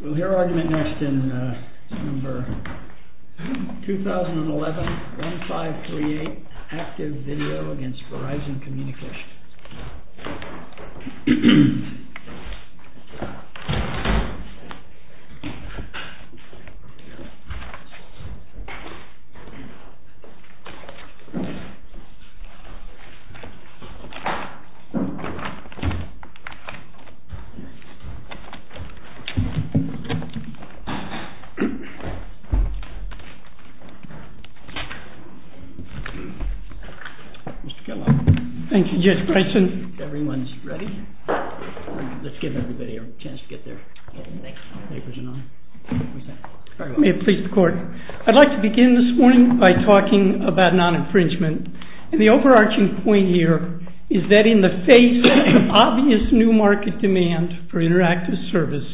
We'll hear argument next in number 2011-1538, ACTIVEVIDEO v. Verizon Communications. I'd like to begin this morning by talking about non-infringement, and the overarching point here is that in the face of obvious new market demand for interactive service,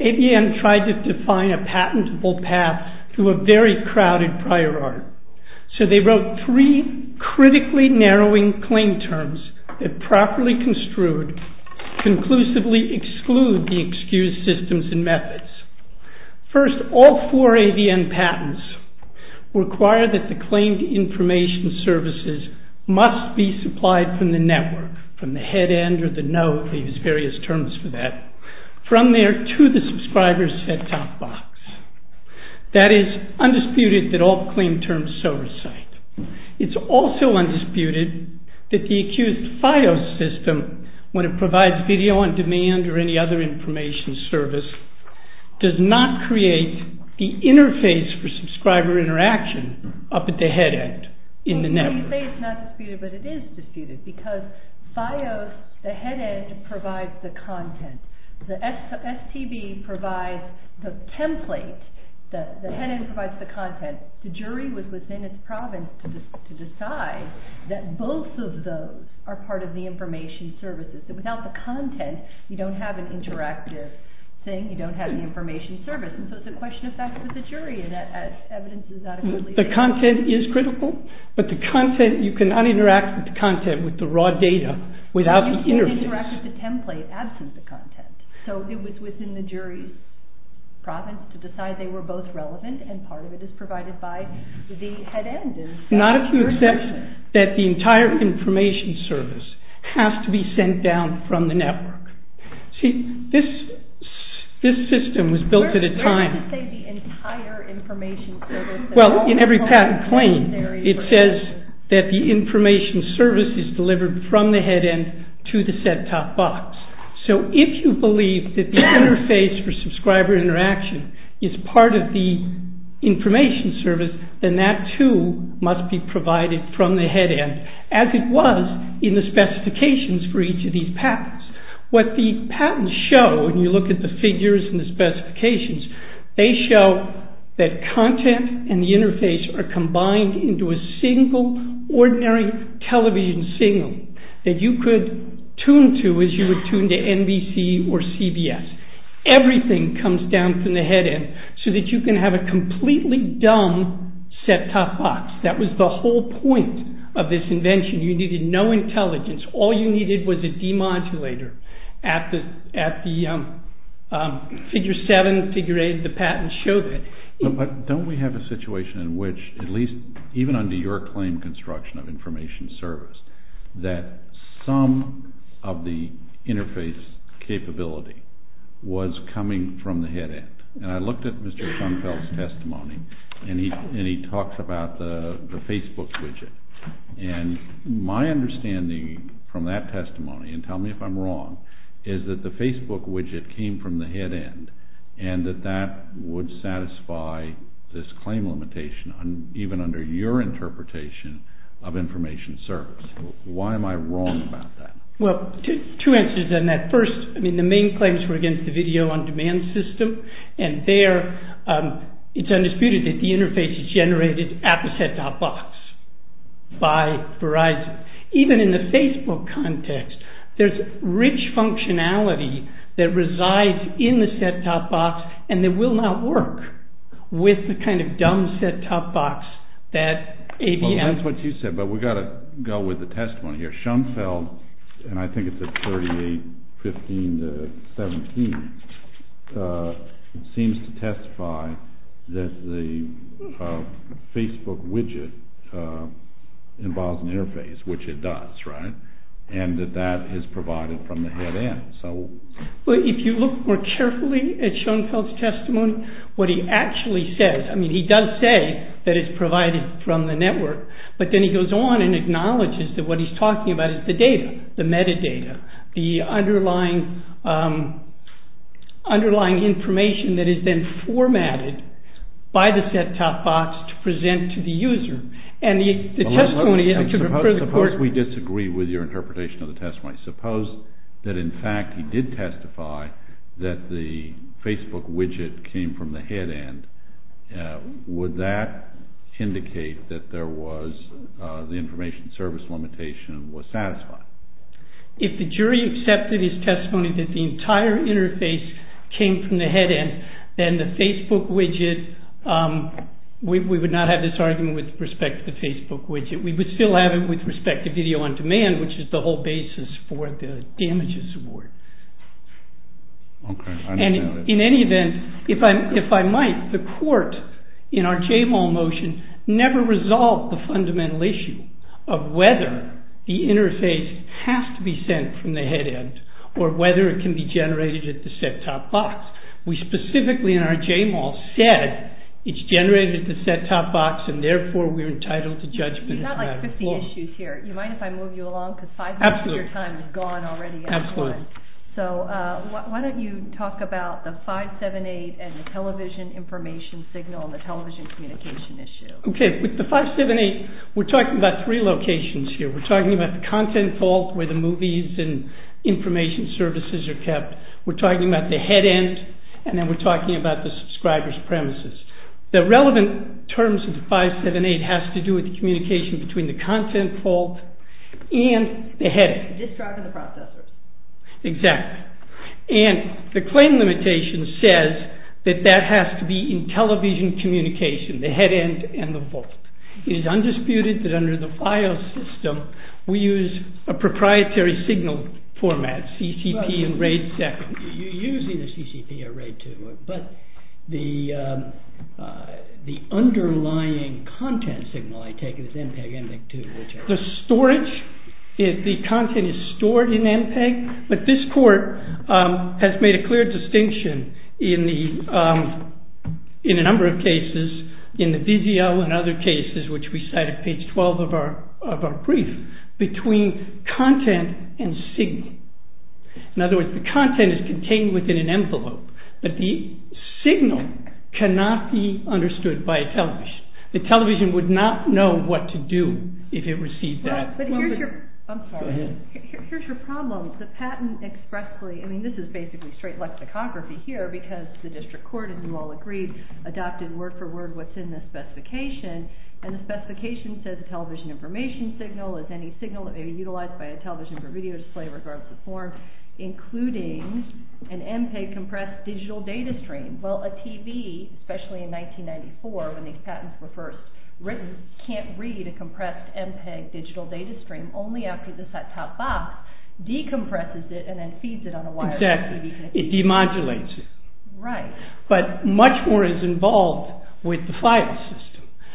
AVN tried to define a patentable path to a very crowded prior art. So they wrote three critically narrowing claim terms that properly construed, conclusively exclude the excused systems and methods. First, all four AVN patents require that the claimed information services must be supplied from the network, from the head end or the node, we use various terms for that, from there to the subscriber's set-top box. That is, undisputed that all claim terms so recite. It's also undisputed that the accused FIOS system, when it provides video on demand or any other information service, does not create the interface for subscriber interaction up at the head end in the network. So you say it's not disputed, but it is disputed, because FIOS, the head end provides the content. The STB provides the template, the head end provides the content. The jury was within its province to decide that both of those are part of the information services, that without the content, you don't have an interactive thing, you don't have the information service. So it's a question of facts with the jury, and that evidence is not... The content is critical, but the content, you cannot interact with the content, with the raw data, without the interface. You can't interact with the template, absent the content. So it was within the jury's province to decide they were both relevant, and part of it is provided by the head end. Not if you accept that the entire information service has to be sent down from the network. See, this system was built at a time... Where does it say the entire information service? Well, in every patent claim, it says that the information service is delivered from the head end to the set-top box. So if you believe that the interface for subscriber interaction is part of the information service, then that too must be provided from the head end, as it was in the specifications for each of these patents. What the patents show, when you look at the figures and the specifications, they show that content and the interface are combined into a single, ordinary television signal that you could tune to as you would tune to NBC or CBS. Everything comes down from the head end, so that you can have a completely dumb set-top box. That was the whole point of this invention. You needed no intelligence. All you needed was a demodulator. At the figure 7, figure 8, the patents showed it. But don't we have a situation in which, at least even under your claim, construction of information service, that some of the interface capability was coming from the head end? I looked at Mr. Schoenfeld's testimony, and he talks about the Facebook widget. My understanding from that testimony, and tell me if I'm wrong, is that the Facebook widget came from the head end, and that that would satisfy this claim limitation, even under your interpretation of information service. Why am I wrong about that? Well, two answers on that. First, the main claims were against the video-on-demand system, and there, it's undisputed that the interface is generated at the set-top box by Verizon. Even in the Facebook context, there's rich functionality that resides in the set-top box, and that will not work with the kind of dumb set-top box that ABM... And I think it's at 38.15.17. It seems to testify that the Facebook widget involves an interface, which it does, right? And that that is provided from the head end. Well, if you look more carefully at Schoenfeld's testimony, what he actually says, I mean, he does say that it's provided from the network, but then he goes on and acknowledges that what he's talking about is the data, the metadata, the underlying information that is then formatted by the set-top box to present to the user. Suppose we disagree with your interpretation of the testimony. Suppose that, in fact, he did testify that the Facebook widget came from the head end. Would that indicate that there was... the information service limitation was satisfied? If the jury accepted his testimony that the entire interface came from the head end, then the Facebook widget... We would not have this argument with respect to the Facebook widget. We would still have it with respect to video on demand, which is the whole basis for the damages award. And in any event, if I might, the court in our JMAL motion never resolved the fundamental issue of whether the interface has to be sent from the head end or whether it can be generated at the set-top box. We specifically in our JMAL said it's generated at the set-top box and therefore we're entitled to judgment. You've got like 50 issues here. You mind if I move you along? Absolutely. Because five minutes of your time is gone already. Absolutely. So why don't you talk about the 578 and the television information signal and the television communication issue. Okay. With the 578, we're talking about three locations here. We're talking about the content vault where the movies and information services are kept. We're talking about the head end and then we're talking about the subscriber's premises. The relevant terms of the 578 has to do with the communication between the content vault and the head end. The disk drive and the processors. Exactly. And the claim limitation says that that has to be in television communication, the head end and the vault. It is undisputed that under the FIOS system, we use a proprietary signal format, CCP and RAID 2nd. You use either CCP or RAID 2, but the underlying content signal, I take it, is MPEG, MPEG-2. The storage, the content is stored in MPEG, but this court has made a clear distinction in a number of cases, in the DDL and other cases, which we cite at page 12 of our brief, between content and signal. In other words, the content is contained within an envelope, but the signal cannot be understood by a television. The television would not know what to do if it received that. Here's your problem. The patent expressly, this is basically straight lexicography here because the district court, as you all agreed, adopted word for word what's in the specification and the specification says television information signal is any signal that may be utilized by a television for video display, regardless of form, including an MPEG compressed digital data stream. Well, a TV, especially in 1994, when these patents were first written, can't read a compressed MPEG digital data stream, only after the top box decompresses it and then feeds it on a wire. Exactly. It demodulates it. Right. But much more is involved with the file system.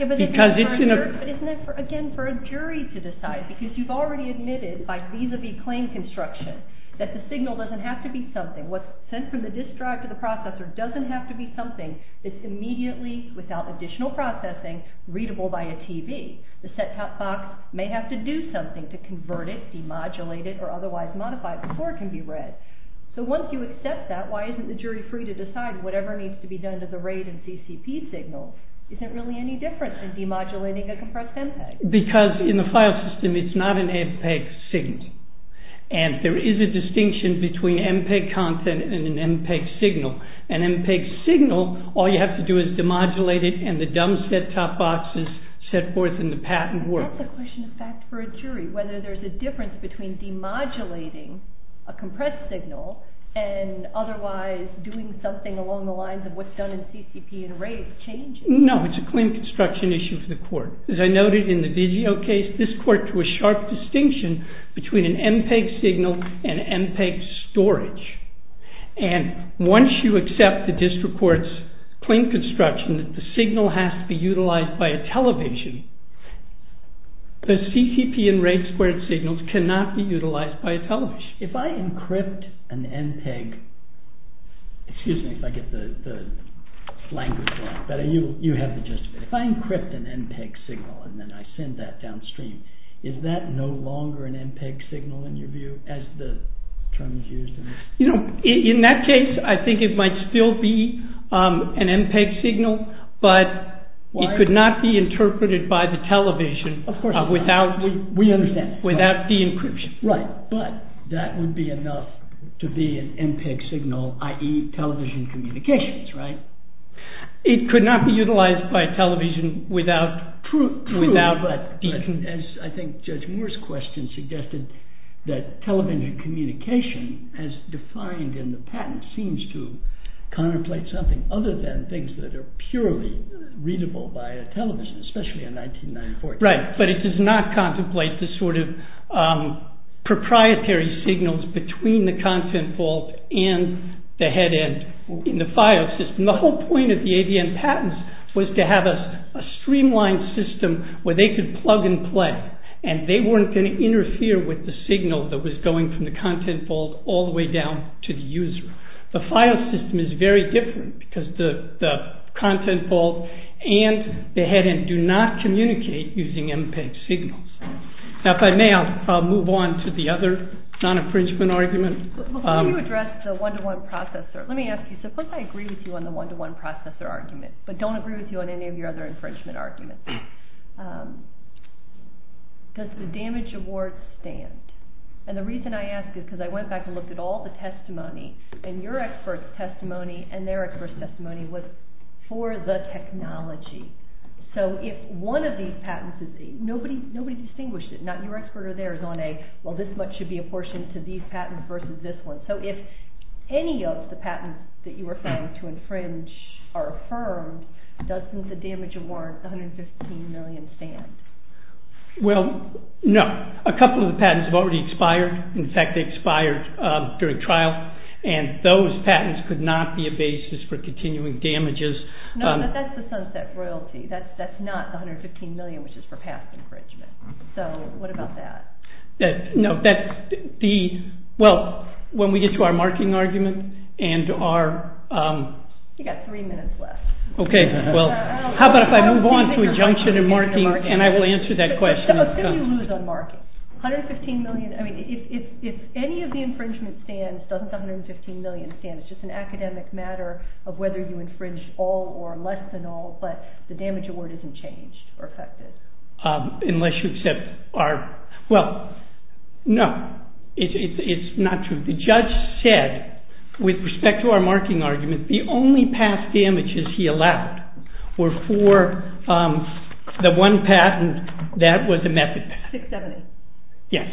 But isn't that, again, for a jury to decide? Because you've already admitted by vis-a-vis claim construction that the signal doesn't have to be something. What's sent from the disk drive to the processor doesn't have to be something that's immediately, without additional processing, readable by a TV. The set-top box may have to do something to convert it, demodulate it, or otherwise modify it before it can be read. So once you accept that, why isn't the jury free to decide whatever needs to be done to the RAID and CCP signal? Is there really any difference in demodulating a compressed MPEG? Because in the file system, it's not an MPEG signal. And there is a distinction between MPEG content and an MPEG signal. An MPEG signal, all you have to do is demodulate it and the dump set-top boxes set forth in the patent work. But that's a question of fact for a jury, whether there's a difference between demodulating a compressed signal and otherwise doing something along the lines of what's done in CCP and RAID changes. No, it's a claim construction issue for the court. As I noted in the Digio case, this court drew a sharp distinction between an MPEG signal and MPEG storage. And once you accept the district court's claim construction that the signal has to be utilized by a television, the CCP and RAID squared signals cannot be utilized by a television. If I encrypt an MPEG signal and then I send that downstream, is that no longer an MPEG signal in your view, as the term is used? You know, in that case, I think it might still be an MPEG signal, but it could not be interpreted by the television without the encryption. Right, but that would be enough to be an MPEG signal, i.e. television communications, right? It could not be utilized by a television without... I think Judge Moore's question suggested that television communication, as defined in the patent, seems to contemplate something other than things that are purely readable by a television, especially in 1994. Right, but it does not contemplate the sort of proprietary signals between the content vault and the head end in the file system. The whole point of the ADN patents was to have a streamlined system where they could plug and play, and they weren't going to interfere with the signal that was going from the content vault all the way down to the user. The file system is very different because the content vault and the head end do not communicate using MPEG signals. Now, if I may, I'll move on to the other non-infringement argument. Before you address the one-to-one processor, let me ask you, suppose I agree with you on any of your other infringement arguments, does the damage award stand? And the reason I ask is because I went back and looked at all the testimony, and your expert's testimony and their expert's testimony was for the technology. So if one of these patents is... Nobody distinguished it. Not your expert or theirs on a, well, this much should be apportioned to these patents versus this one. So if any of the patents that you were found to infringe are affirmed, doesn't the damage award, 115 million, stand? Well, no. A couple of the patents have already expired. In fact, they expired during trial. And those patents could not be a basis for continuing damages. No, but that's the sunset royalty. That's not the 115 million, which is for past infringement. So what about that? No, that's the... Well, when we get to our marking argument and our... You've got three minutes left. Okay, well, how about if I move on to adjunction and marking, and I will answer that question. Suppose you lose on marking. 115 million, I mean, if any of the infringement stands, doesn't the 115 million stand? It's just an academic matter of whether you infringe all or less than all, but the damage award isn't changed or affected. Unless you accept our... Well, no. It's not true. The judge said, with respect to our marking argument, the only past damages he allowed were for the one patent that was a method patent. 670. Yes.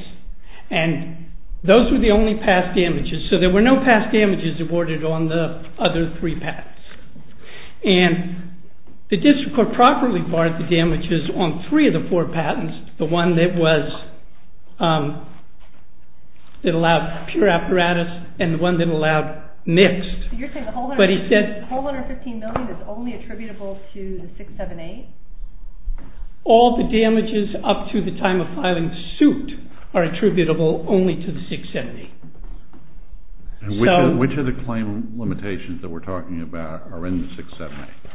And those were the only past damages. So there were no past damages awarded on the other three patents. And the district court properly barred the damages on three of the four patents, the one that allowed pure apparatus and the one that allowed mixed. You're saying the whole 115 million is only attributable to the 678? All the damages up to the time of filing suit are attributable only to the 678. And which of the claim limitations that we're talking about are in the 678?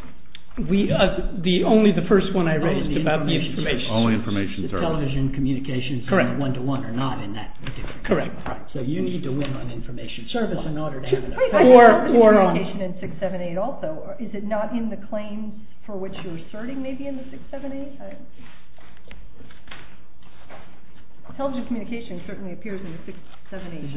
Only the first one I raised about the information. Only information service. The television communications and the one-to-one are not in that district court. Correct. So you need to win on information service in order to have an effect. Or on the communication in 678 also. Is it not in the claims for which you're asserting maybe in the 678? The television communication certainly appears in the 678. Is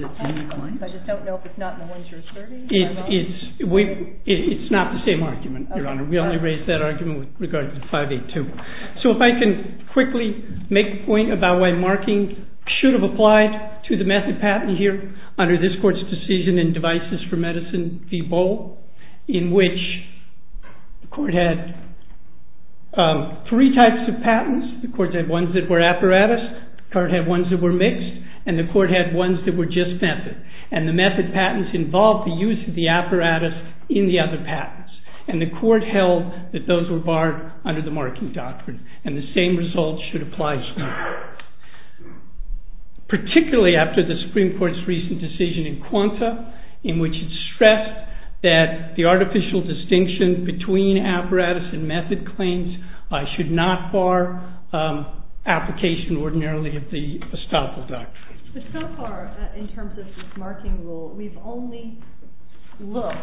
it in the claims? I just don't know if it's not in the ones you're asserting. It's not the same argument, Your Honor. We only raised that argument with regard to 582. So if I can quickly make a point about why markings should have applied to the method patent here under this court's decision in Devices for Medicine v. Bohl in which the court had three types of patents. The court had ones that were apparatus. The court had ones that were mixed. And the court had ones that were just method. And the method patents involved the use of the apparatus in the other patents. And the court held that those were barred under the marking doctrine. And the same result should apply here. Particularly after the Supreme Court's recent decision in Quanta in which it stressed that the artificial distinction between apparatus and method claims should not bar application ordinarily of the estoppel doctrine. But so far in terms of this marking rule, we've only looked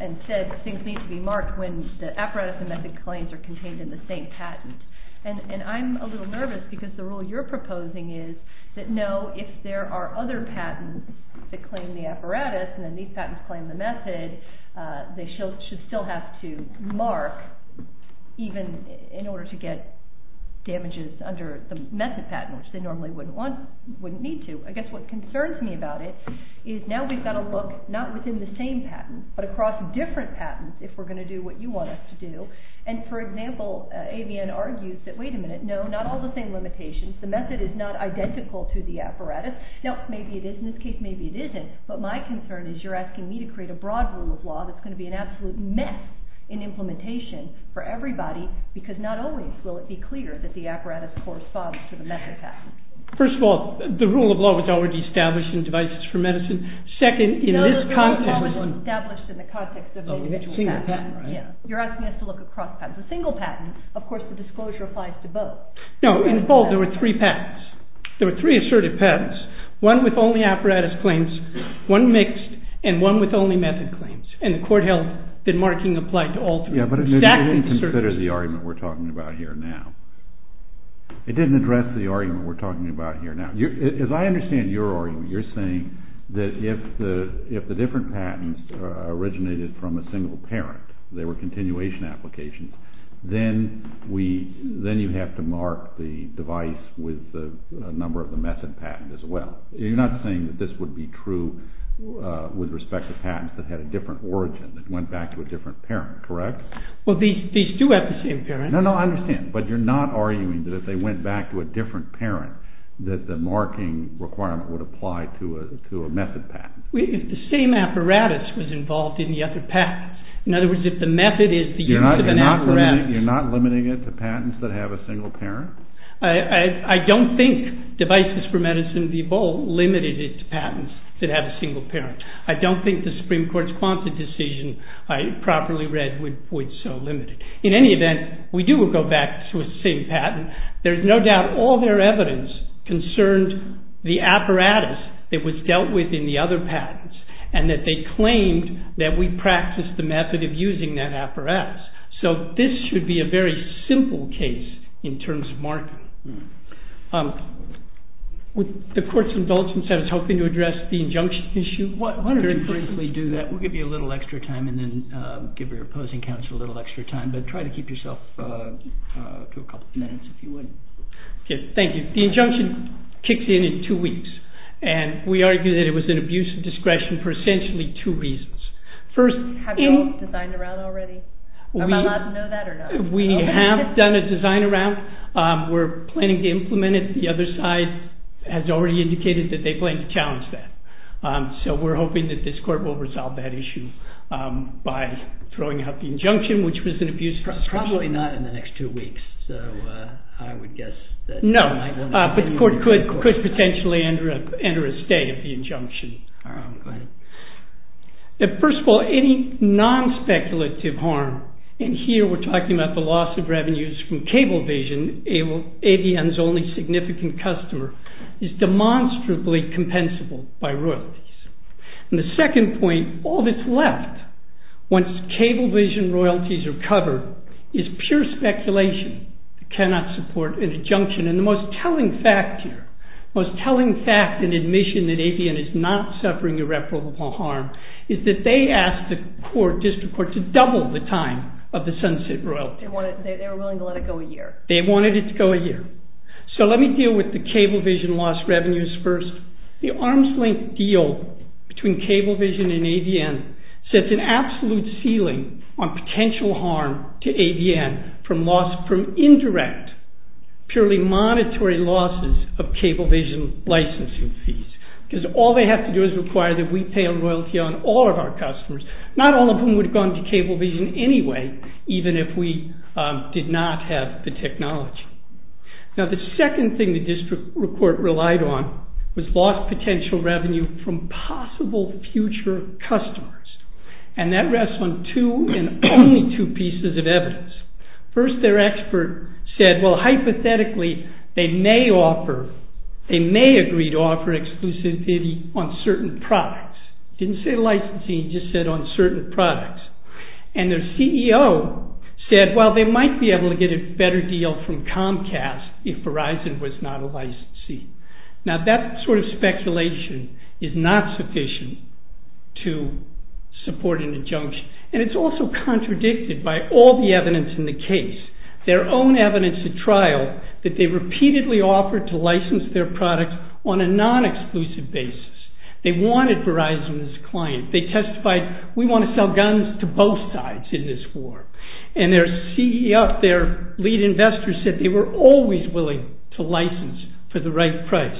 and said things need to be marked when the apparatus and method claims are contained in the same patent. And I'm a little nervous because the rule you're proposing is that no, if there are other patents that claim the apparatus and then these patents claim the method, they should still have to mark even in order to get damages under the method patent, which they normally wouldn't need to. I guess what concerns me about it is now we've got to look not within the same patent, but across different patents if we're going to do what you want us to do. And for example, Avianne argues that, wait a minute, no, not all the same limitations. The method is not identical to the apparatus. Now, maybe it is in this case, maybe it isn't. But my concern is you're asking me to create a broad rule of law that's going to be an absolute mess in implementation for everybody because not always will it be clear that the apparatus corresponds to the method patent. First of all, the rule of law was already established in Devices for Medicine. Second, in this context... No, the rule of law wasn't established in the context of the individual patent. You're asking us to look across patents. A single patent, of course, the disclosure applies to both. No, in full, there were three patents. There were three assertive patents. One with only apparatus claims, one mixed, and one with only method claims. And the court held that marking applied to all three. Yeah, but it didn't consider the argument we're talking about here now. It didn't address the argument we're talking about here now. As I understand your argument, you're saying that if the different patents originated from a single parent, they were continuation applications, then you have to mark the device with a number of the method patent as well. You're not saying that this would be true with respect to patents that had a different origin, that went back to a different parent, correct? Well, these do have the same parent. No, no, I understand. But you're not arguing that if they went back to a different parent, that the marking requirement would apply to a method patent? If the same apparatus was involved in the other patents. In other words, if the method is the use of an apparatus. You're not limiting it to patents that have a single parent? I don't think Devices for Medicine v. Bolt limited it to patents that have a single parent. I don't think the Supreme Court's Quonset decision I properly read would so limit it. In any event, we do go back to the same patent. There's no doubt all their evidence concerned the apparatus that was dealt with in the other patents, and that they claimed that we practiced the method of using that apparatus. So this should be a very simple case in terms of marking. The court's indulgence in helping to address the injunction issue. Why don't we briefly do that? We'll give you a little extra time and then give your opposing counsel a little extra time. But try to keep yourself to a couple of minutes if you would. Thank you. The injunction kicks in in two weeks. We argue that it was an abuse of discretion for essentially two reasons. Have you all designed a round already? Am I allowed to know that or not? We have done a design around. We're planning to implement it. The other side has already indicated that they plan to challenge that. So we're hoping that this court will resolve that issue by throwing out the injunction, which was an abuse of discretion. Probably not in the next two weeks. So I would guess that... No, but the court could potentially enter a stay of the injunction. All right, go ahead. First of all, any non-speculative harm, and here we're talking about the loss of revenues from Cablevision, ADM's only significant customer, is demonstrably compensable by royalties. And the second point, all that's left once Cablevision royalties are covered, is pure speculation that cannot support an injunction. And the most telling fact here, the most telling fact in admission that ADM is not suffering irreparable harm, is that they asked the court, District Court, to double the time of the sunset royalty. They were willing to let it go a year. They wanted it to go a year. So let me deal with the Cablevision lost revenues first. The arm's length deal between Cablevision and ADM sets an absolute ceiling on potential harm to ADM from indirect, purely monetary losses of Cablevision licensing fees. Because all they have to do is require that we pay a royalty on all of our customers, not all of whom would have gone to Cablevision anyway, even if we did not have the technology. Now the second thing the District Court relied on was lost potential revenue from possible future customers. And that rests on two, and only two, pieces of evidence. First, their expert said, well, hypothetically, they may agree to offer exclusivity on certain products. Didn't say licensing, just said on certain products. And their CEO said, well, they might be able to get a better deal from Comcast if Verizon was not a licensee. Now that sort of speculation is not sufficient to support an injunction. And it's also contradicted by all the evidence in the case. Their own evidence at trial that they repeatedly offered to license their products on a non-exclusive basis. They wanted Verizon as a client. They testified, we want to sell guns to both sides in this war. And their CEO, their lead investor, said they were always willing to license for the right price.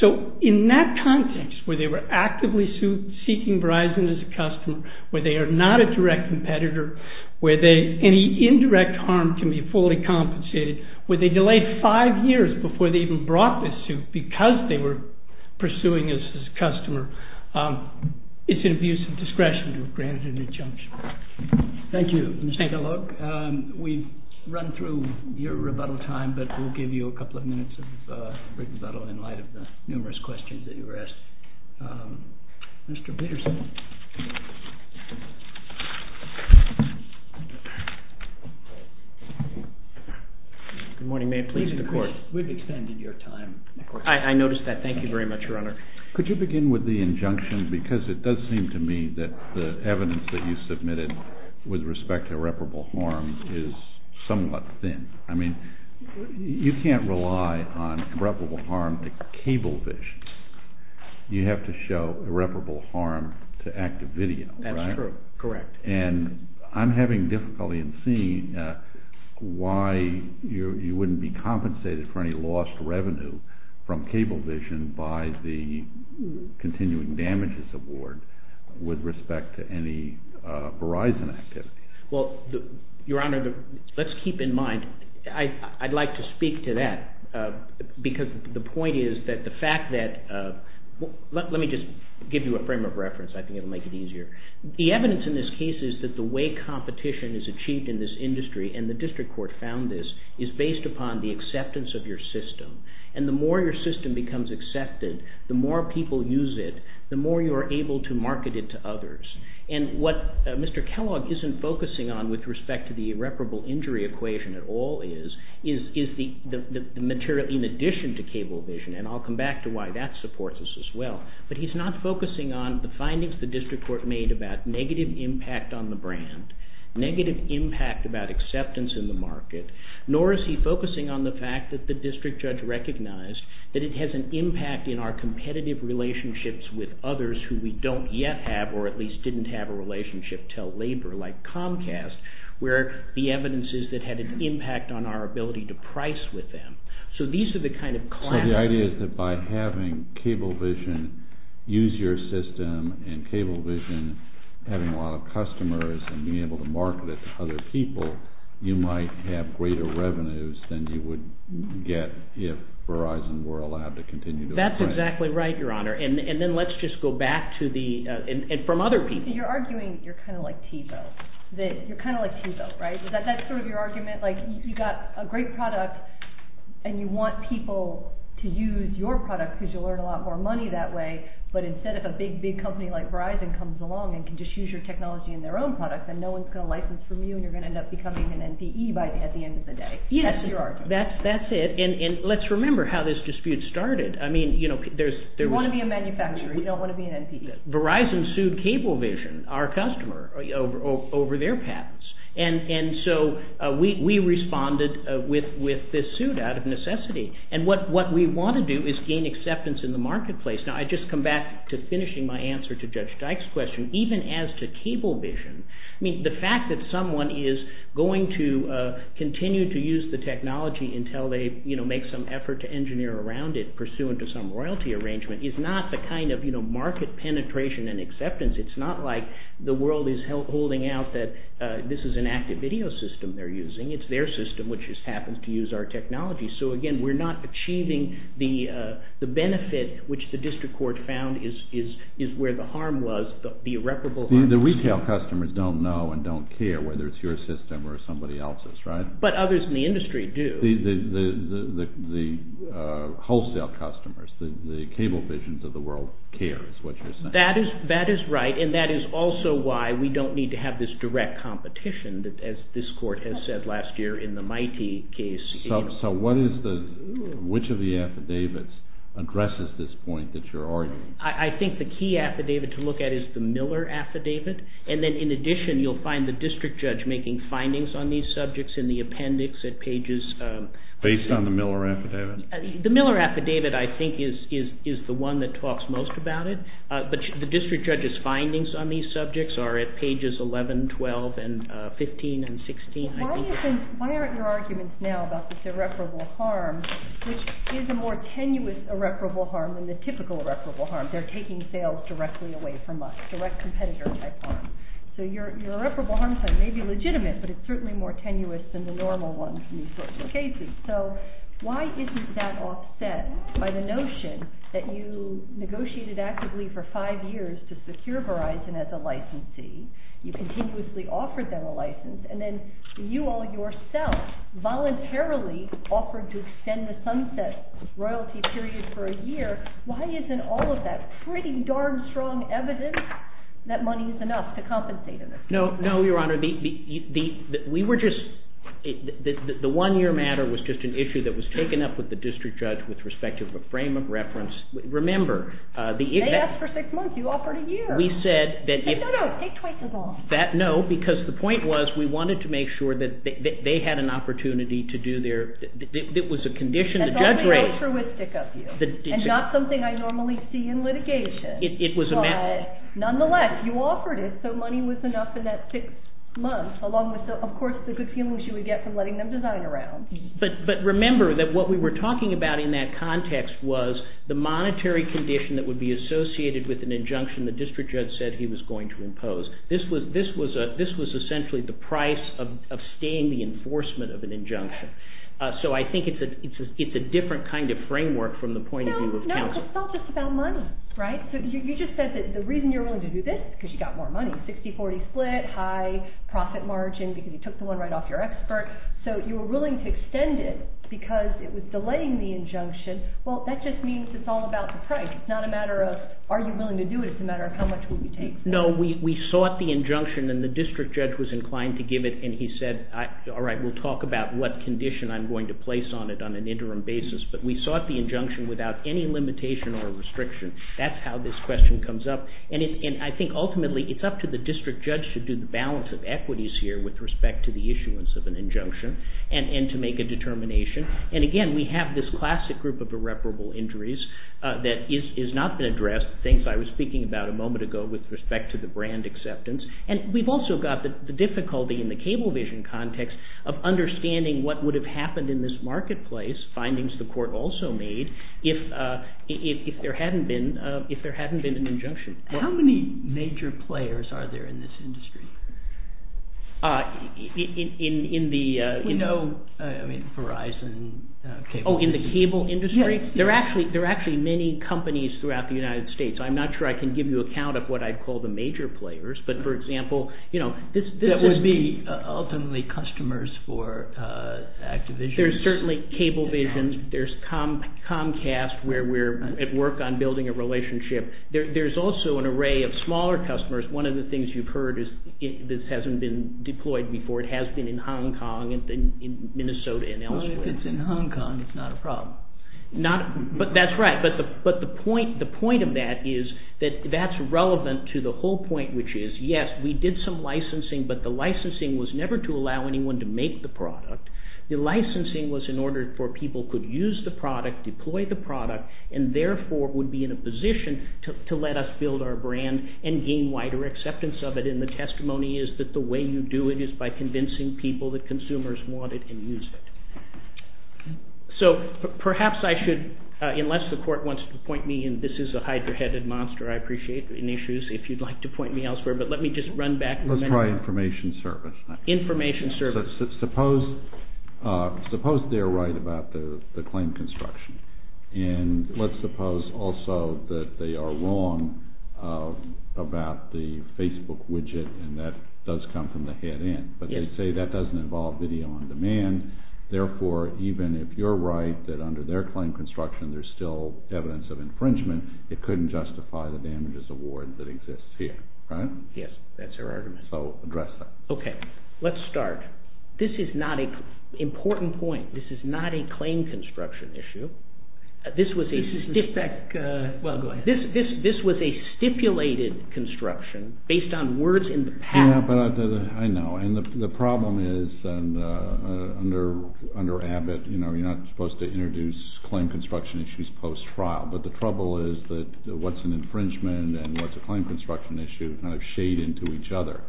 So in that context, where they were actively seeking Verizon as a customer, where they are not a direct competitor, where any indirect harm can be fully compensated, where they delayed five years before they even brought this suit because they were pursuing us as a customer, it's an abuse of discretion to have granted an injunction. Thank you. We've run through your rebuttal time, but we'll give you a couple of minutes of rebuttal in light of the numerous questions that you were asked. Mr. Peterson. Good morning. May it please the Court. We've extended your time. I noticed that. Thank you very much, Your Honor. Could you begin with the injunction? Because it does seem to me that the evidence that you submitted with respect to irreparable harm is somewhat thin. I mean, you can't rely on irreparable harm to cable vision. You have to show irreparable harm to active video. That's true. Correct. And I'm having difficulty in seeing why you wouldn't be compensated for any lost revenue from cable vision by the continuing damages award with respect to any Verizon activity. Well, Your Honor, let's keep in mind, I'd like to speak to that because the point is that the fact that... Let me just give you a frame of reference. I think it'll make it easier. The evidence in this case is that the way competition is achieved in this industry, and the District Court found this, is based upon the acceptance of your system. And the more your system becomes accepted, the more people use it, the more you are able to market it to others. And what Mr. Kellogg isn't focusing on with respect to the irreparable injury equation at all is, is the material in addition to cable vision. And I'll come back to why that supports us as well. But he's not focusing on the findings the District Court made about negative impact on the brand, negative impact about acceptance in the market, nor is he focusing on the fact that the District Judge recognized that it has an impact in our competitive relationships with others who we don't yet have or at least didn't have a relationship till labor, like Comcast, where the evidence is that had an impact on our ability to price with them. So these are the kind of... So the idea is that by having cable vision use your system and cable vision having a lot of customers and being able to market it to other people, you might have greater revenues than you would get if Verizon were allowed to continue to... That's exactly right, Your Honor. And then let's just go back to the... And from other people. You're arguing you're kind of like Tebow. You're kind of like Tebow, right? Is that sort of your argument? Like you got a great product and you want people to use your product because you'll earn a lot more money that way. But instead of a big, big company like Verizon comes along and can just use your technology in their own products and no one's going to license from you and you're going to end up becoming an NCE by the end of the day. That's your argument. That's it. And let's remember how this dispute started. I mean, you know, there's... You don't want to be a manufacturer. You don't want to be an NCE. Verizon sued Cablevision, our customer, over their patents. And so we responded with this suit out of necessity. And what we want to do is gain acceptance in the marketplace. Now, I just come back to finishing my answer to Judge Dyke's question. Even as to Cablevision, I mean, the fact that someone is going to continue to use the technology until they make some effort to engineer around it pursuant to some royalty arrangement is not the kind of, you know, market penetration and acceptance. It's not like the world is holding out that this is an active video system they're using. It's their system which just happens to use our technology. So again, we're not achieving the benefit which the district court found is where the harm was, the irreparable harm. The retail customers don't know and don't care whether it's your system or somebody else's, right? But others in the industry do. But the wholesale customers, the Cablevisions of the world care is what you're saying. That is right. And that is also why we don't need to have this direct competition as this court has said last year in the MITEI case. So which of the affidavits addresses this point that you're arguing? I think the key affidavit to look at is the Miller affidavit. And then in addition, you'll find the district judge making findings on these subjects in the appendix based on the Miller affidavit. The Miller affidavit, I think, is the one that talks most about it. But the district judge's findings on these subjects are at pages 11, 12, and 15, and 16, I think. Why aren't your arguments now about this irreparable harm, which is a more tenuous irreparable harm than the typical irreparable harm? They're taking sales directly away from us, direct competitor type harm. So your irreparable harm claim may be legitimate, but it's certainly more tenuous than the normal one in these sorts of cases. So why isn't that offset by the notion that you negotiated actively for five years to secure Verizon as a licensee, you continuously offered them a license, and then you all yourself voluntarily offered to extend the Sunset royalty period for a year. Why isn't all of that pretty darn strong evidence that money is enough to compensate in this case? No, Your Honor. We were just... The one-year matter was just an issue that was taken up with the district judge with respect to a frame of reference. Remember... They asked for six months. You offered a year. No, no, take twice as long. No, because the point was we wanted to make sure that they had an opportunity to do their... It was a condition the judge raised. That's only altruistic of you, and not something I normally see in litigation. It was a matter... Nonetheless, you offered it, so money was enough in that six months, along with, of course, the good feelings you would get from letting them design around. But remember that what we were talking about in that context was the monetary condition that would be associated with an injunction the district judge said he was going to impose. This was essentially the price of staying the enforcement of an injunction. So I think it's a different kind of framework from the point of view of counsel. It's not just about money, right? You just said that the reason you're willing to do this is because you got more money. 60-40 split, high profit margin because you took the one right off your expert. So you were willing to extend it because it was delaying the injunction. Well, that just means it's all about the price. It's not a matter of are you willing to do it? It's a matter of how much will you take? No, we sought the injunction, and the district judge was inclined to give it, and he said, all right, we'll talk about what condition I'm going to place on it on an interim basis, but we sought the injunction without any limitation or restriction. That's how this question comes up. And I think ultimately it's up to the district judge to do the balance of equities here with respect to the issuance of an injunction and to make a determination. And again, we have this classic group of irreparable injuries that has not been addressed, things I was speaking about a moment ago with respect to the brand acceptance. And we've also got the difficulty in the cable vision context of understanding what would have happened in this marketplace, findings the court also made, if there hadn't been an injunction. How many major players are there in this industry? In the... We know, I mean, Verizon, cable... Oh, in the cable industry? Yeah. There are actually many companies throughout the United States. I'm not sure I can give you a count of what I'd call the major players, but for example, you know, this is... That would be ultimately customers for Activision. There's certainly cable visions. There's Comcast, where we're at work on building a relationship. There's also an array of smaller customers. One of the things you've heard is this hasn't been deployed before. It has been in Hong Kong and in Minnesota and elsewhere. Well, if it's in Hong Kong, it's not a problem. But that's right. But the point of that is that that's relevant to the whole point, which is, yes, we did some licensing, but the licensing was never to allow anyone to make the product. The licensing was in order for people to use the product, deploy the product, and therefore would be in a position to let us build our brand and gain wider acceptance of it. And the testimony is that the way you do it is by convincing people that consumers want it and use it. So perhaps I should... Unless the court wants to point me in... This is a hydra-headed monster. I appreciate the issues. If you'd like to point me elsewhere. Let's try information service. Information service. Suppose they're right about the claim construction. And let's suppose also that they are wrong about the Facebook widget, and that does come from the head end. But they say that doesn't involve video on demand. Therefore, even if you're right that under their claim construction there's still evidence of infringement, it couldn't justify the damages award that exists here, right? Yes, that's their argument. Okay, let's start. This is not an important point. This is not a claim construction issue. This was a... Well, go ahead. This was a stipulated construction based on words in the past. Yeah, but I know. And the problem is under Abbott, you're not supposed to introduce claim construction issues post-trial, but the trouble is that what's an infringement and what's a claim construction issue kind of shade into each other.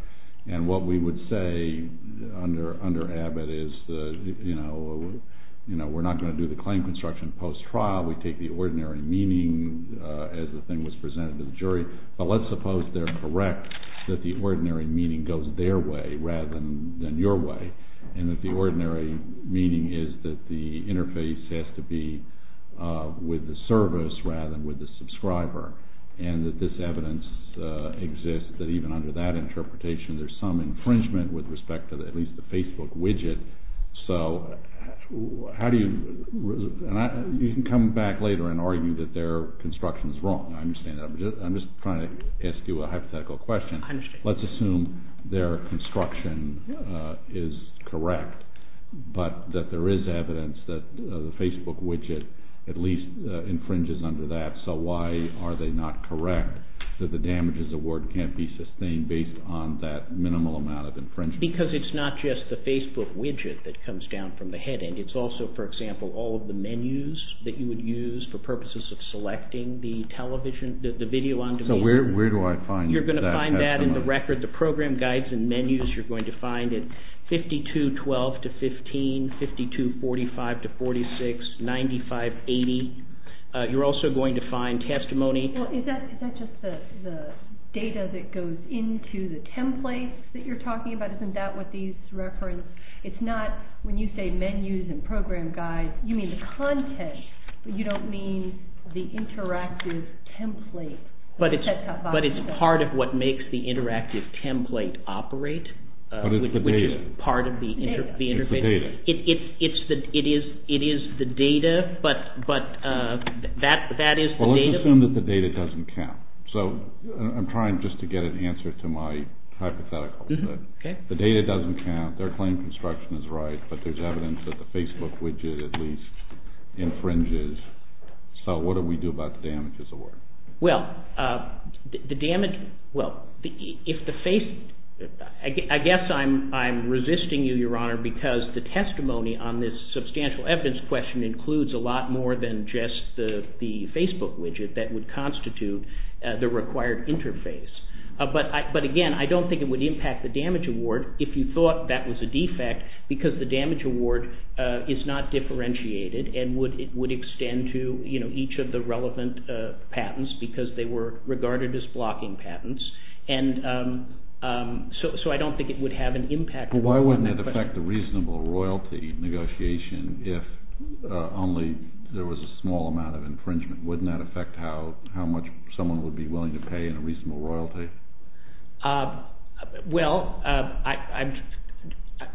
And what we would say under Abbott is we're not going to do the claim construction post-trial, we take the ordinary meaning as the thing was presented to the jury, but let's suppose they're correct that the ordinary meaning goes their way rather than your way, and that the ordinary meaning is that the interface has to be with the service rather than with the subscriber, and that this evidence exists that even under that interpretation there's some infringement with respect to at least the Facebook widget, so how do you... You can come back later and argue that their construction's wrong. I'm just trying to ask you a hypothetical question. I understand. Let's assume their construction is correct, but that there is evidence that the Facebook widget at least infringes under that, so why are they not correct that the damages award can't be sustained based on that minimal amount of infringement? Because it's not just the Facebook widget that comes down from the head end, it's also, for example, all of the menus that you would use for purposes of selecting the television, the video on demand. So where do I find that? You're going to find that in the record, the program guides and menus, you're going to find it 52-12-15, 52-45-46, 95-80. You're also going to find testimony... Is that just the data that goes into the template that you're talking about? Isn't that what these reference? It's not when you say menus and program guides, you mean the content, but you don't mean the interactive template. But it's part of what makes the interactive template operate. But it's the data. It is the data, but that is the data. Let's assume that the data doesn't count. I'm trying just to get an answer to my hypothetical. The data doesn't count, their claim construction is right, but there's evidence that the Facebook widget at least infringes. So what do we do about the damage? Well, the damage... I guess I'm resisting you, Your Honor, because the testimony on this substantial evidence question includes a lot more than just the Facebook widget that would constitute the required interface. But again, I don't think it would impact the damage award if you thought that was a defect because the damage award is not differentiated and would extend to each of the relevant patents because they were regarded as blocking patents. And so I don't think it would have an impact. Why wouldn't it affect the reasonable royalty negotiation if only there was a small amount of infringement? Wouldn't that affect how much someone would be willing to pay in a reasonable royalty? Well,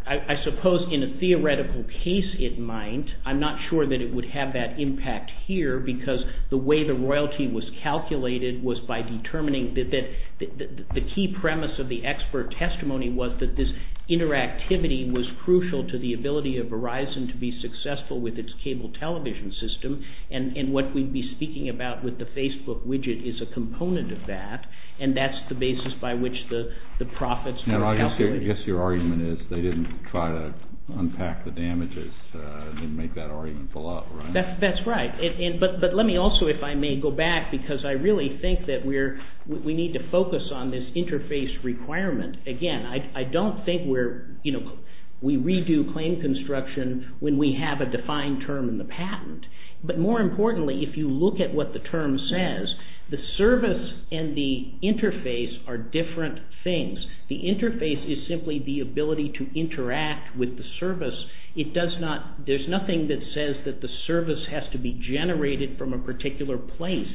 I suppose in a theoretical case it might. I'm not sure that it would have that impact here because the way the royalty was calculated was by determining that the key premise of the expert testimony was that this interactivity was crucial to the ability of Verizon to be successful with its cable television system, and what we'd be speaking about with the Facebook widget is a component of that, and that's the basis by which the profits were calculated. I guess your argument is they didn't try to unpack the damages and make that argument fall out, right? That's right. But let me also, if I may, go back because I really think that we need to focus on this interface requirement. Again, I don't think we redo claim construction when we have a defined term in the patent, but more importantly, if you look at what the term says, the service and the interface are different things. The interface is simply the ability to interact with the service. There's nothing that says that the service has to be generated from a particular place.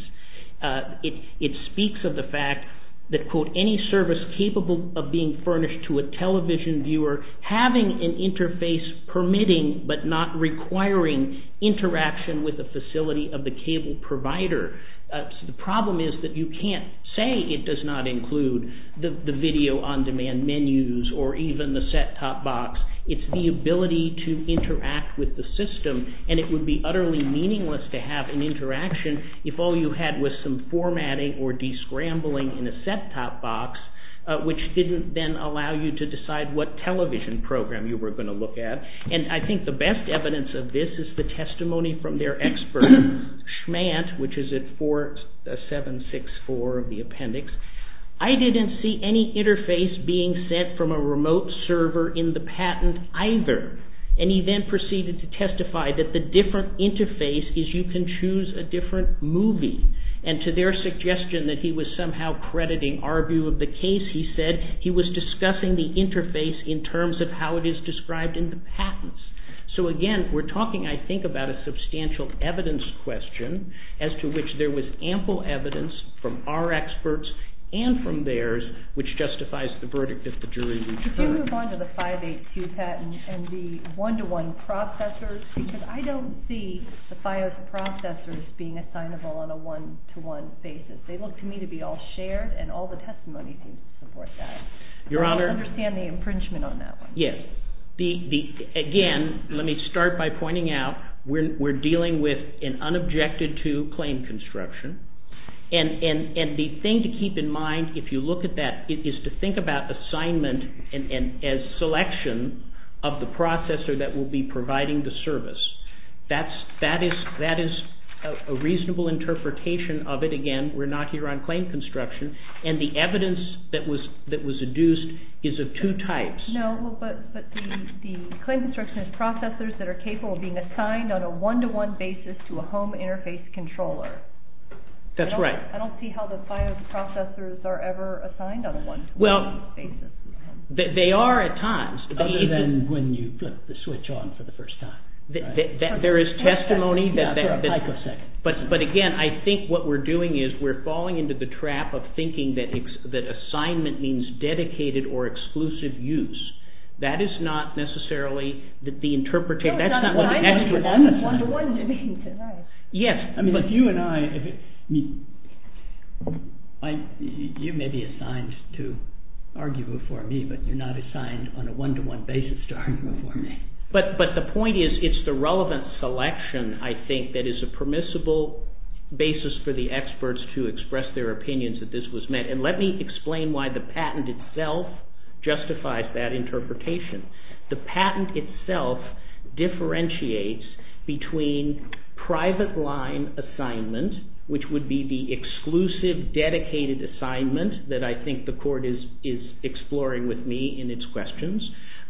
It speaks of the fact that, quote, any service capable of being furnished to a television viewer having an interface permitting, but not requiring interaction with the facility of the cable provider. The problem is that you can't say it does not include the video on-demand menus or even the set-top box. It's the ability to interact with the system, and it would be a bad interaction if all you had was some formatting or de-scrambling in a set-top box, which didn't then allow you to decide what television program you were going to look at, and I think the best evidence of this is the testimony from their expert, Schmant, which is at 4764 of the appendix. I didn't see any interface being sent from a remote server in the patent either, and he then proceeded to testify that the different interface is you can choose a different movie, and to their suggestion that he was somehow crediting our view of the case, he said he was discussing the interface in terms of how it is described in the patents. So again, we're talking, I think, about a substantial evidence question as to which there was ample evidence from our experts and from theirs which justifies the verdict that the jury would turn. I do move on to the 582 patent and the one-to-one processors because I don't see the FIOS processors being assignable on a one-to-one basis. They look to me to be all shared and all the testimony to support that. I don't understand the impringement on that one. Yes. Again, let me start by pointing out we're dealing with an unobjected-to claim construction, and the thing to keep in mind if you look at that is to think about assignment as selection of the processor that will be providing the service. That is a reasonable interpretation of it. Again, we're not here on claim construction, and the evidence that was induced is of two types. No, but the claim construction is processors that are capable of being assigned on a one-to-one basis to a home interface controller. That's right. I don't see how the FIOS processors are ever assigned on a one-to-one basis. Well, they are at times. Other than when you flip the switch on for the first time. There is testimony that... Yeah, for a microsecond. But again, I think what we're doing is we're falling into the trap of thinking that assignment means dedicated or exclusive use. That is not necessarily the interpretation... No, it's not what I'm going to do. That's what one-to-one means. Yes, but... You may be assigned to argue before me, but you're not assigned on a one-to-one basis to argue before me. But the point is it's the relevant selection, I think, that is a permissible basis for the experts to express their opinions that this was meant. And let me explain why the patent itself justifies that interpretation. The patent itself differentiates between private line assignment which would be the exclusive dedicated assignment that I think the court is exploring with me in its questions,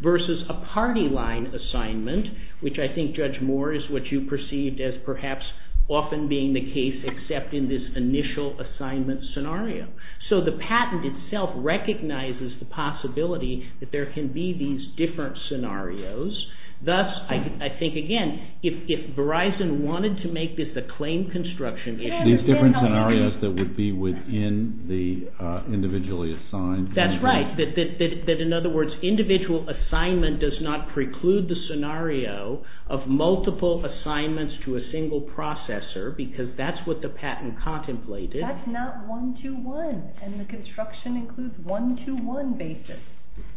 versus a party line assignment, which I think, Judge Moore, is what you perceived as perhaps often being the case except in this initial assignment scenario. So the patent itself recognizes the possibility that there can be these different scenarios. Thus, I think, again, if Verizon wanted to make this a claim construction issue... These different scenarios that would be within the individually assigned... That's right. In other words, individual assignment does not preclude the scenario of multiple assignments to a single processor because that's what the patent contemplated. That's not one-to-one, and the construction includes one-to-one basis.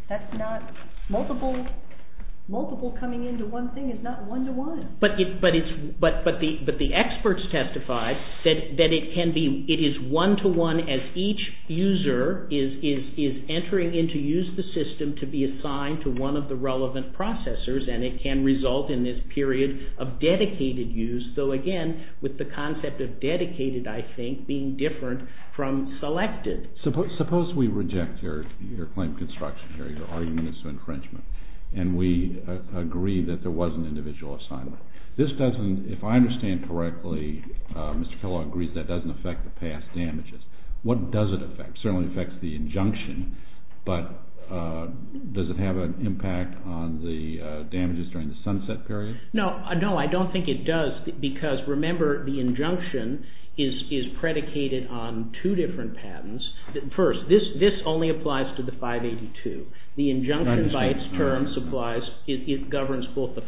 That's not... Multiple coming into one thing is not one-to-one. But the experts testified that it can be... It is one-to-one as each user is entering in to use the system to be assigned to one of the relevant processors, and it can result in this period of dedicated use. So, again, with the concept of dedicated, I think, being different from selected. Suppose we reject your claim construction here, your argument is infringement, and we agree that there was an infringement. This doesn't, if I understand correctly, Mr. Kellogg agrees that doesn't affect the past damages. What does it affect? It certainly affects the injunction, but does it have an impact on the damages during the sunset period? No. No, I don't think it does because, remember, the injunction is predicated on two different patents. First, this only applies to the 582. The injunction by its terms applies... I understand. ...to the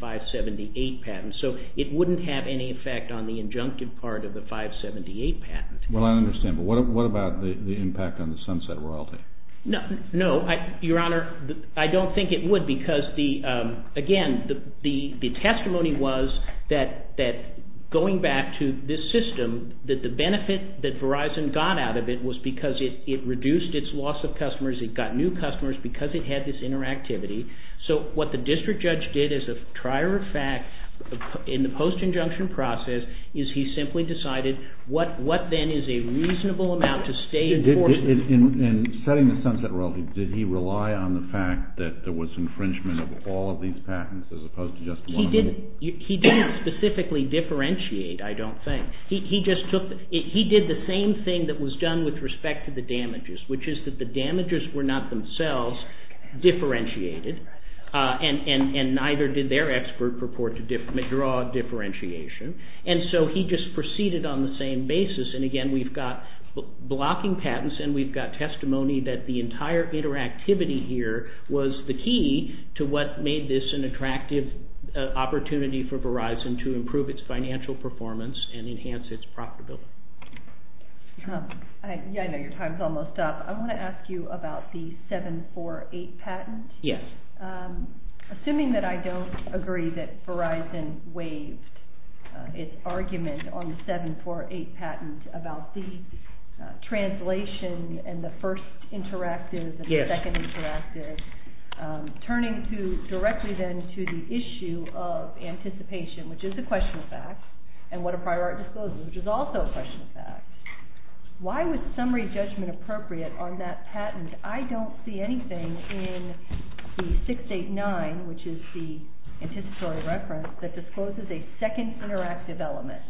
578 patent, so it wouldn't have any effect on the injunctive part of the 578 patent. Well, I understand, but what about the impact on the sunset royalty? No. Your Honor, I don't think it would because, again, the testimony was that going back to this system, that the benefit that Verizon got out of it was because it reduced its loss of customers, it got new customers because it had this interactivity. So what the district judge did as a trier of fact in the post injunction process is he simply decided what then is a reasonable amount to stay... In setting the sunset royalty, did he rely on the fact that there was infringement of all of these patents as opposed to just one of them? He didn't specifically differentiate, I don't think. He just took... He did the same thing that was done with respect to the damages, which is that the damages were not themselves differentiated and neither did their expert purport to draw differentiation. And so he just proceeded on the same basis and, again, we've got blocking patents and we've got testimony that the entire interactivity here was the key to what made this an attractive opportunity for Verizon to improve its financial performance and enhance its profitability. I know your time is almost up. I want to ask you about the 748 patent. Yes. Assuming that I don't agree that Verizon waived its argument on the 748 patent about the translation and the first interactive and the second interactive, turning to directly then to the issue of anticipation, which is a question of fact, and what a prior art discloses, which is also a question of fact, why was summary judgment appropriate on that patent? I don't see anything in the 689, which is the anticipatory reference, that discloses a second interactive element,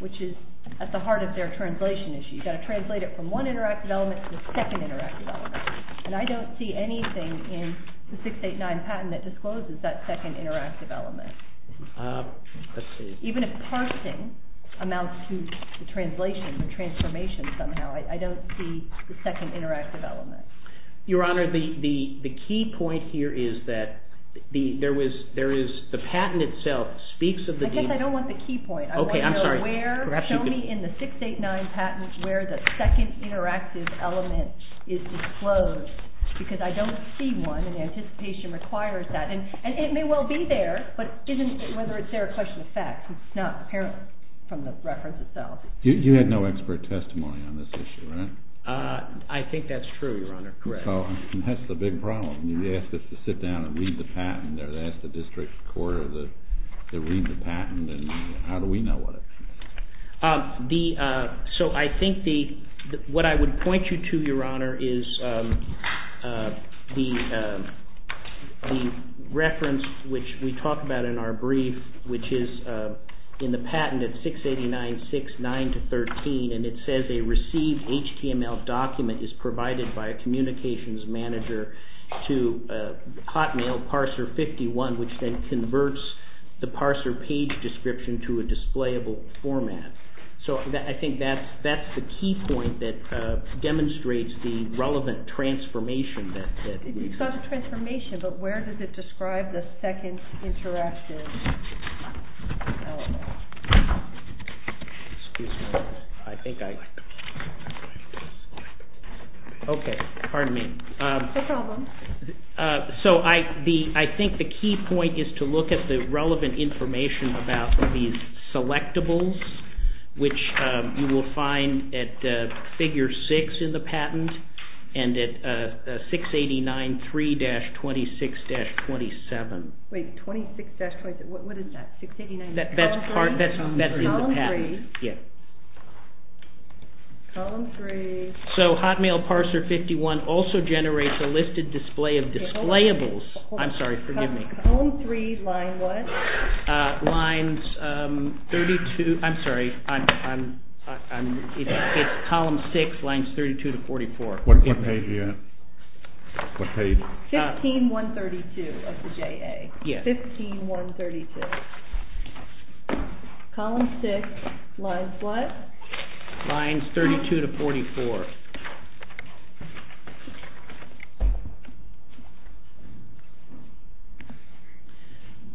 which is at the heart of their translation issue. You've got to translate it from one interactive element to the second interactive element. And I don't see anything in the 689 patent that discloses that second interactive element. Let's see. Even if parsing amounts to the translation and transformation somehow, I don't see the second interactive element. Your Honor, the key point here is that the patent itself speaks of the... I guess I don't want the key point. Okay, I'm sorry. Show me in the 689 patent where the second interactive element is disclosed, because I don't see one, and the anticipation requires that. And it may well be there, but whether it's there is a question of fact. It's not apparent from the reference itself. You had no expert testimony on this issue, right? I think that's true, Your Honor. Correct. That's the big problem. You asked us to sit down and read the patent, or to ask the district court to read the patent, and how do we know what it is? So I think what I would point you to, Your Honor, is the reference which we talk about in our brief, which is in the patent at 689.6.9-13, and it says a received HTML document is provided by a communications manager to hotmail parser 51, which then converts the parser page description to a displayable format. So I think that's the key point that demonstrates the relevant transformation that we've seen. It's not a transformation, but where does it describe the second interactive element? Excuse me. I think I... Okay. Pardon me. No problem. So I think the key point is to look at the relevant information about these selectables, which you will find at figure 6 in the patent, and at 689.3-26-27. Wait, 26-27, what is that? That's in the patent. Column 3. Yeah. Column 3. So hotmail parser 51 also generates a listed display of displayables. I'm sorry, forgive me. Column 3, line what? Lines 32... I'm sorry. It's column 6, lines 32-44. What page are you at? What page? 15-132 of the JA. Yeah. 15-132. Column 6, lines what? Lines 32-44.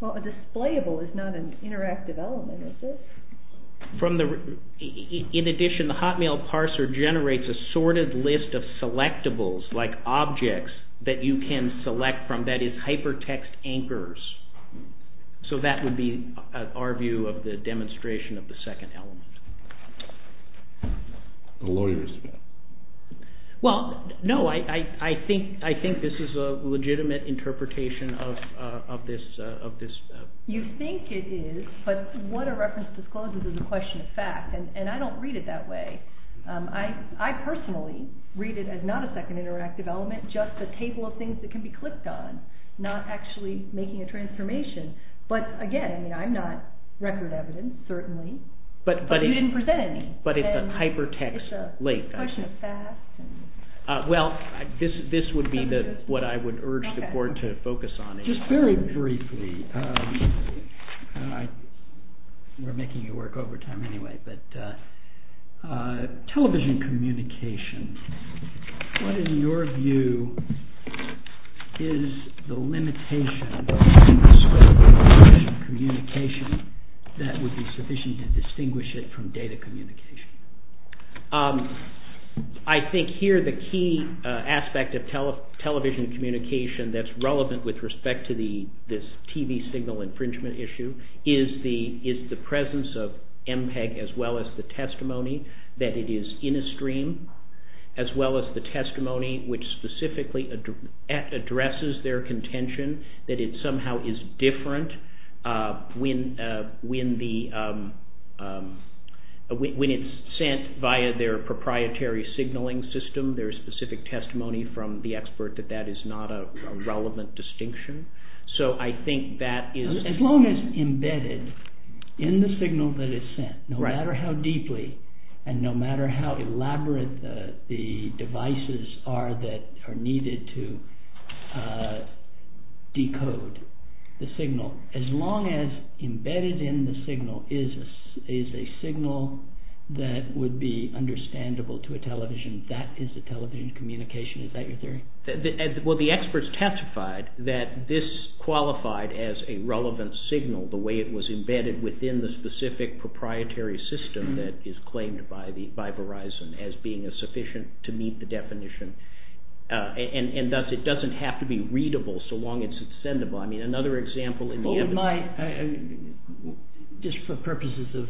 Well, a displayable is not an interactive element, is it? In addition, the hotmail parser generates a sorted list of selectables, like objects that you can select from, that is hypertext anchors. So that would be our view of the demonstration of the second element. Well, no. I think this is a legitimate interpretation of this. You think it is, but what a reference discloses is a question of fact, and I don't read it that way. I personally read it as not a second interactive element, just a table of things that can be clicked on, not actually making But again, I mean, I'm not record evidence, certainly. But it's a table of things that If you didn't present any, then it's a question of fact. Well, this would be what I would urge the board to focus on. Just very briefly, we're making you work overtime anyway, but television communication, what in your view is the limitation communication that would be sufficient to distinguish it from the rest of the world? Data communication. I think here the key aspect of television communication that's relevant with respect to this TV signal infringement issue is the presence of MPEG as well as the testimony that it is in a stream as well as the testimony which different when the television is in a stream, when the television is When it's sent via their proprietary signaling system, there's specific testimony from the expert that that is not a relevant distinction. As long as embedded in the signal that is sent, no matter how deeply and no matter how elaborate that are needed to decode the signal, as long as embedded in the signal is a signal that would be understandable to a television, that is a television communication. Is that your theory? Well, the experts testified that this qualified as a relevant signal, the way it was embedded within the specific proprietary system that is claimed by Verizon as being a sufficient to meet the definition and thus it doesn't have to be readable so long as it's sendable. I mean, another example... Would my just for purposes of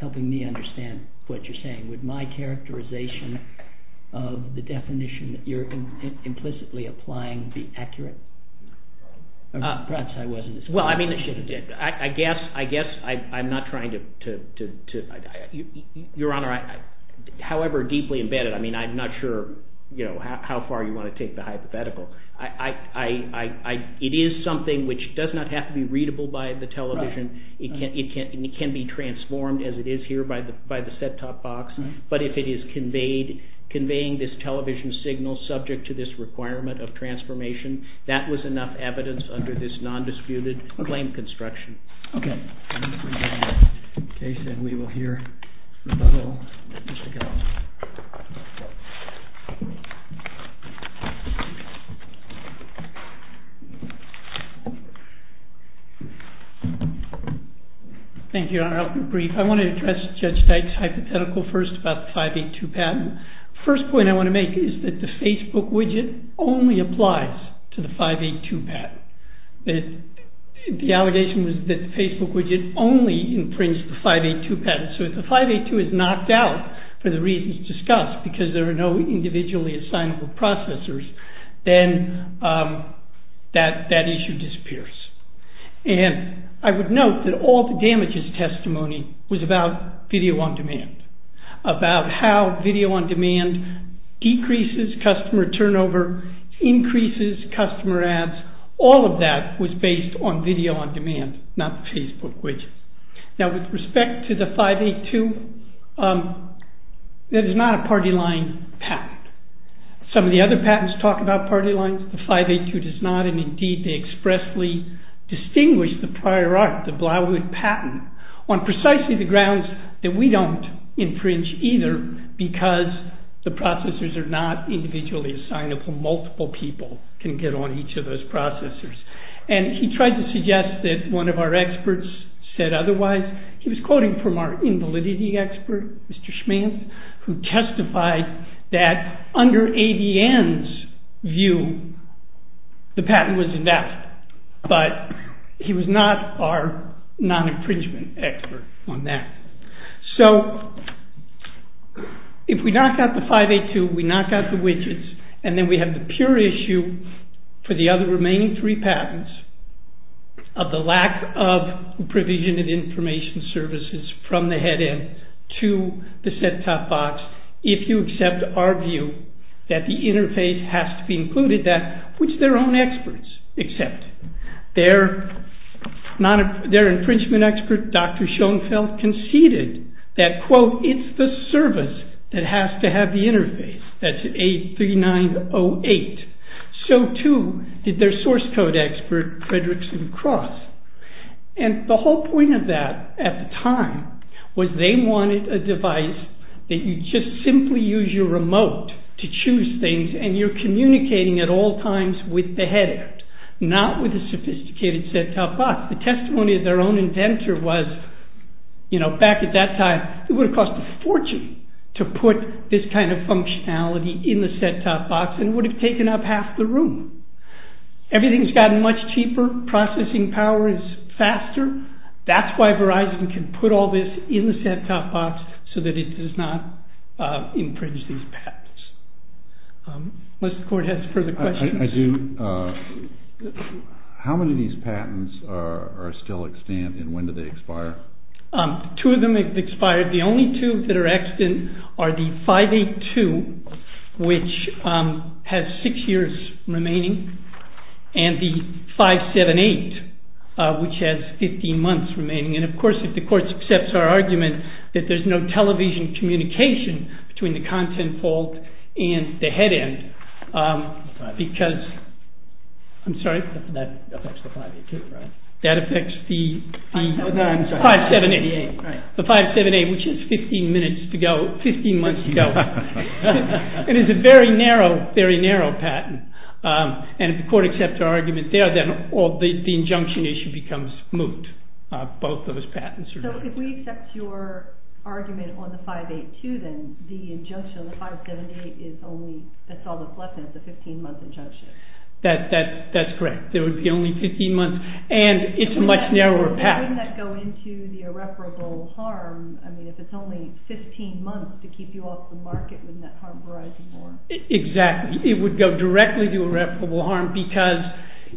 helping me understand what you're saying, would my characterization of the definition that you're implicitly applying be accurate? Perhaps I wasn't... Well, I mean, I guess I'm not trying to... Your Honor, however deeply embedded, I mean, I'm not sure how far you want to take the hypothetical. It is not to be readable by the television. It can be transformed as it is here by the set-top box, but if it is conveying this television signal subject to this requirement of transformation, that was enough evidence under this non-disputed claim construction. Okay. Okay, then we will hear from the whole... Thank you, Your Honor. I'll be brief. I want to address Judge Teich's hypothetical first about the 582 patent. First point I want to make is that the Facebook widget only applies to the 582 patent. The allegation was that the Facebook widget only infringes the 582 patent, so if the 582 is knocked out for the reasons discussed, because there are no individually assignable processors, then that issue disappears. I would note that all the damages testimony was about video-on-demand, about how video-on-demand decreases customer turnover, increases customer ads. All of that was based on video-on-demand, not the Facebook widget. Now, with respect to the 582, that is not a party-line patent. Some of the other patents talk about party-lines. The 582 does not, and indeed they expressly distinguish the prior art, the Blauwood patent, on precisely the grounds that we don't infringe either because the processors are not individually assignable. Multiple people can get on each of those processors. He tried to suggest that one of our experts said otherwise. He was quoting from our invalidity expert, Mr. Schmanth, who testified that under ADN's view, the patent was enough, but he was not our non-infringement expert on that. If we knock out the 582, we knock out the widgets, and then we have the pure issue for the other remaining three patents of the lack of provision of information services from the head-end to the set-top box if you accept our view that the interface has to be included, which their own experts accept. Their infringement expert, Dr. Schoenfeld, conceded that, quote, it's the service that has to have the interface. That's A3908. So, too, did their source-code expert Frederickson Cross. The whole point of that at the time was they wanted a device that you just simply use your remote to choose things, and you're communicating at all times with the head-end, not with the sophisticated set-top box. The testimony of their own inventor was, you know, back at that time, it would have cost a fortune to put this kind of functionality in the set-top box and would have taken up half the room. Everything's gotten much cheaper. Processing power is faster. That's why Verizon can put all this in the set-top box so that it does not infringe these patents. Unless the court has further questions. I do. How many of these patents are still extant, and when do they expire? Two of them have expired. The only two that are extant are the 582, which has six years remaining, and the 578, which has 15 months remaining. And of course, if the court accepts our argument that there's no television communication between the content fault and the head-end, because I'm sorry? That affects the 582, right? That affects the 578. The 578, which is 15 minutes to go, 15 months to go. It is a very narrow patent. And if the court accepts our injunction issue becomes moot. Both of those patents. So if we accept your argument on the 582, then the injunction on the 578 is only the 15-month injunction. That's correct. There would be only 15 months, and it's a much narrower patent. Wouldn't that go into the irreparable harm? I mean, if it's only 15 months to keep you off the market, wouldn't that harm Verizon more? Exactly. It would go directly to irreparable harm, because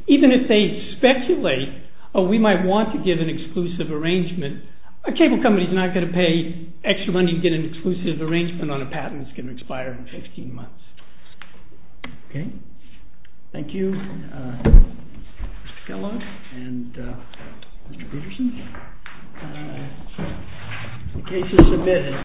even if they speculate we might want to give an exclusive arrangement, a cable company is not going to pay extra money to get an exclusive arrangement on a patent that's going to expire in 15 months. Okay. Thank you. Mr. Kellogg and Mr. Peterson. The case is submitted.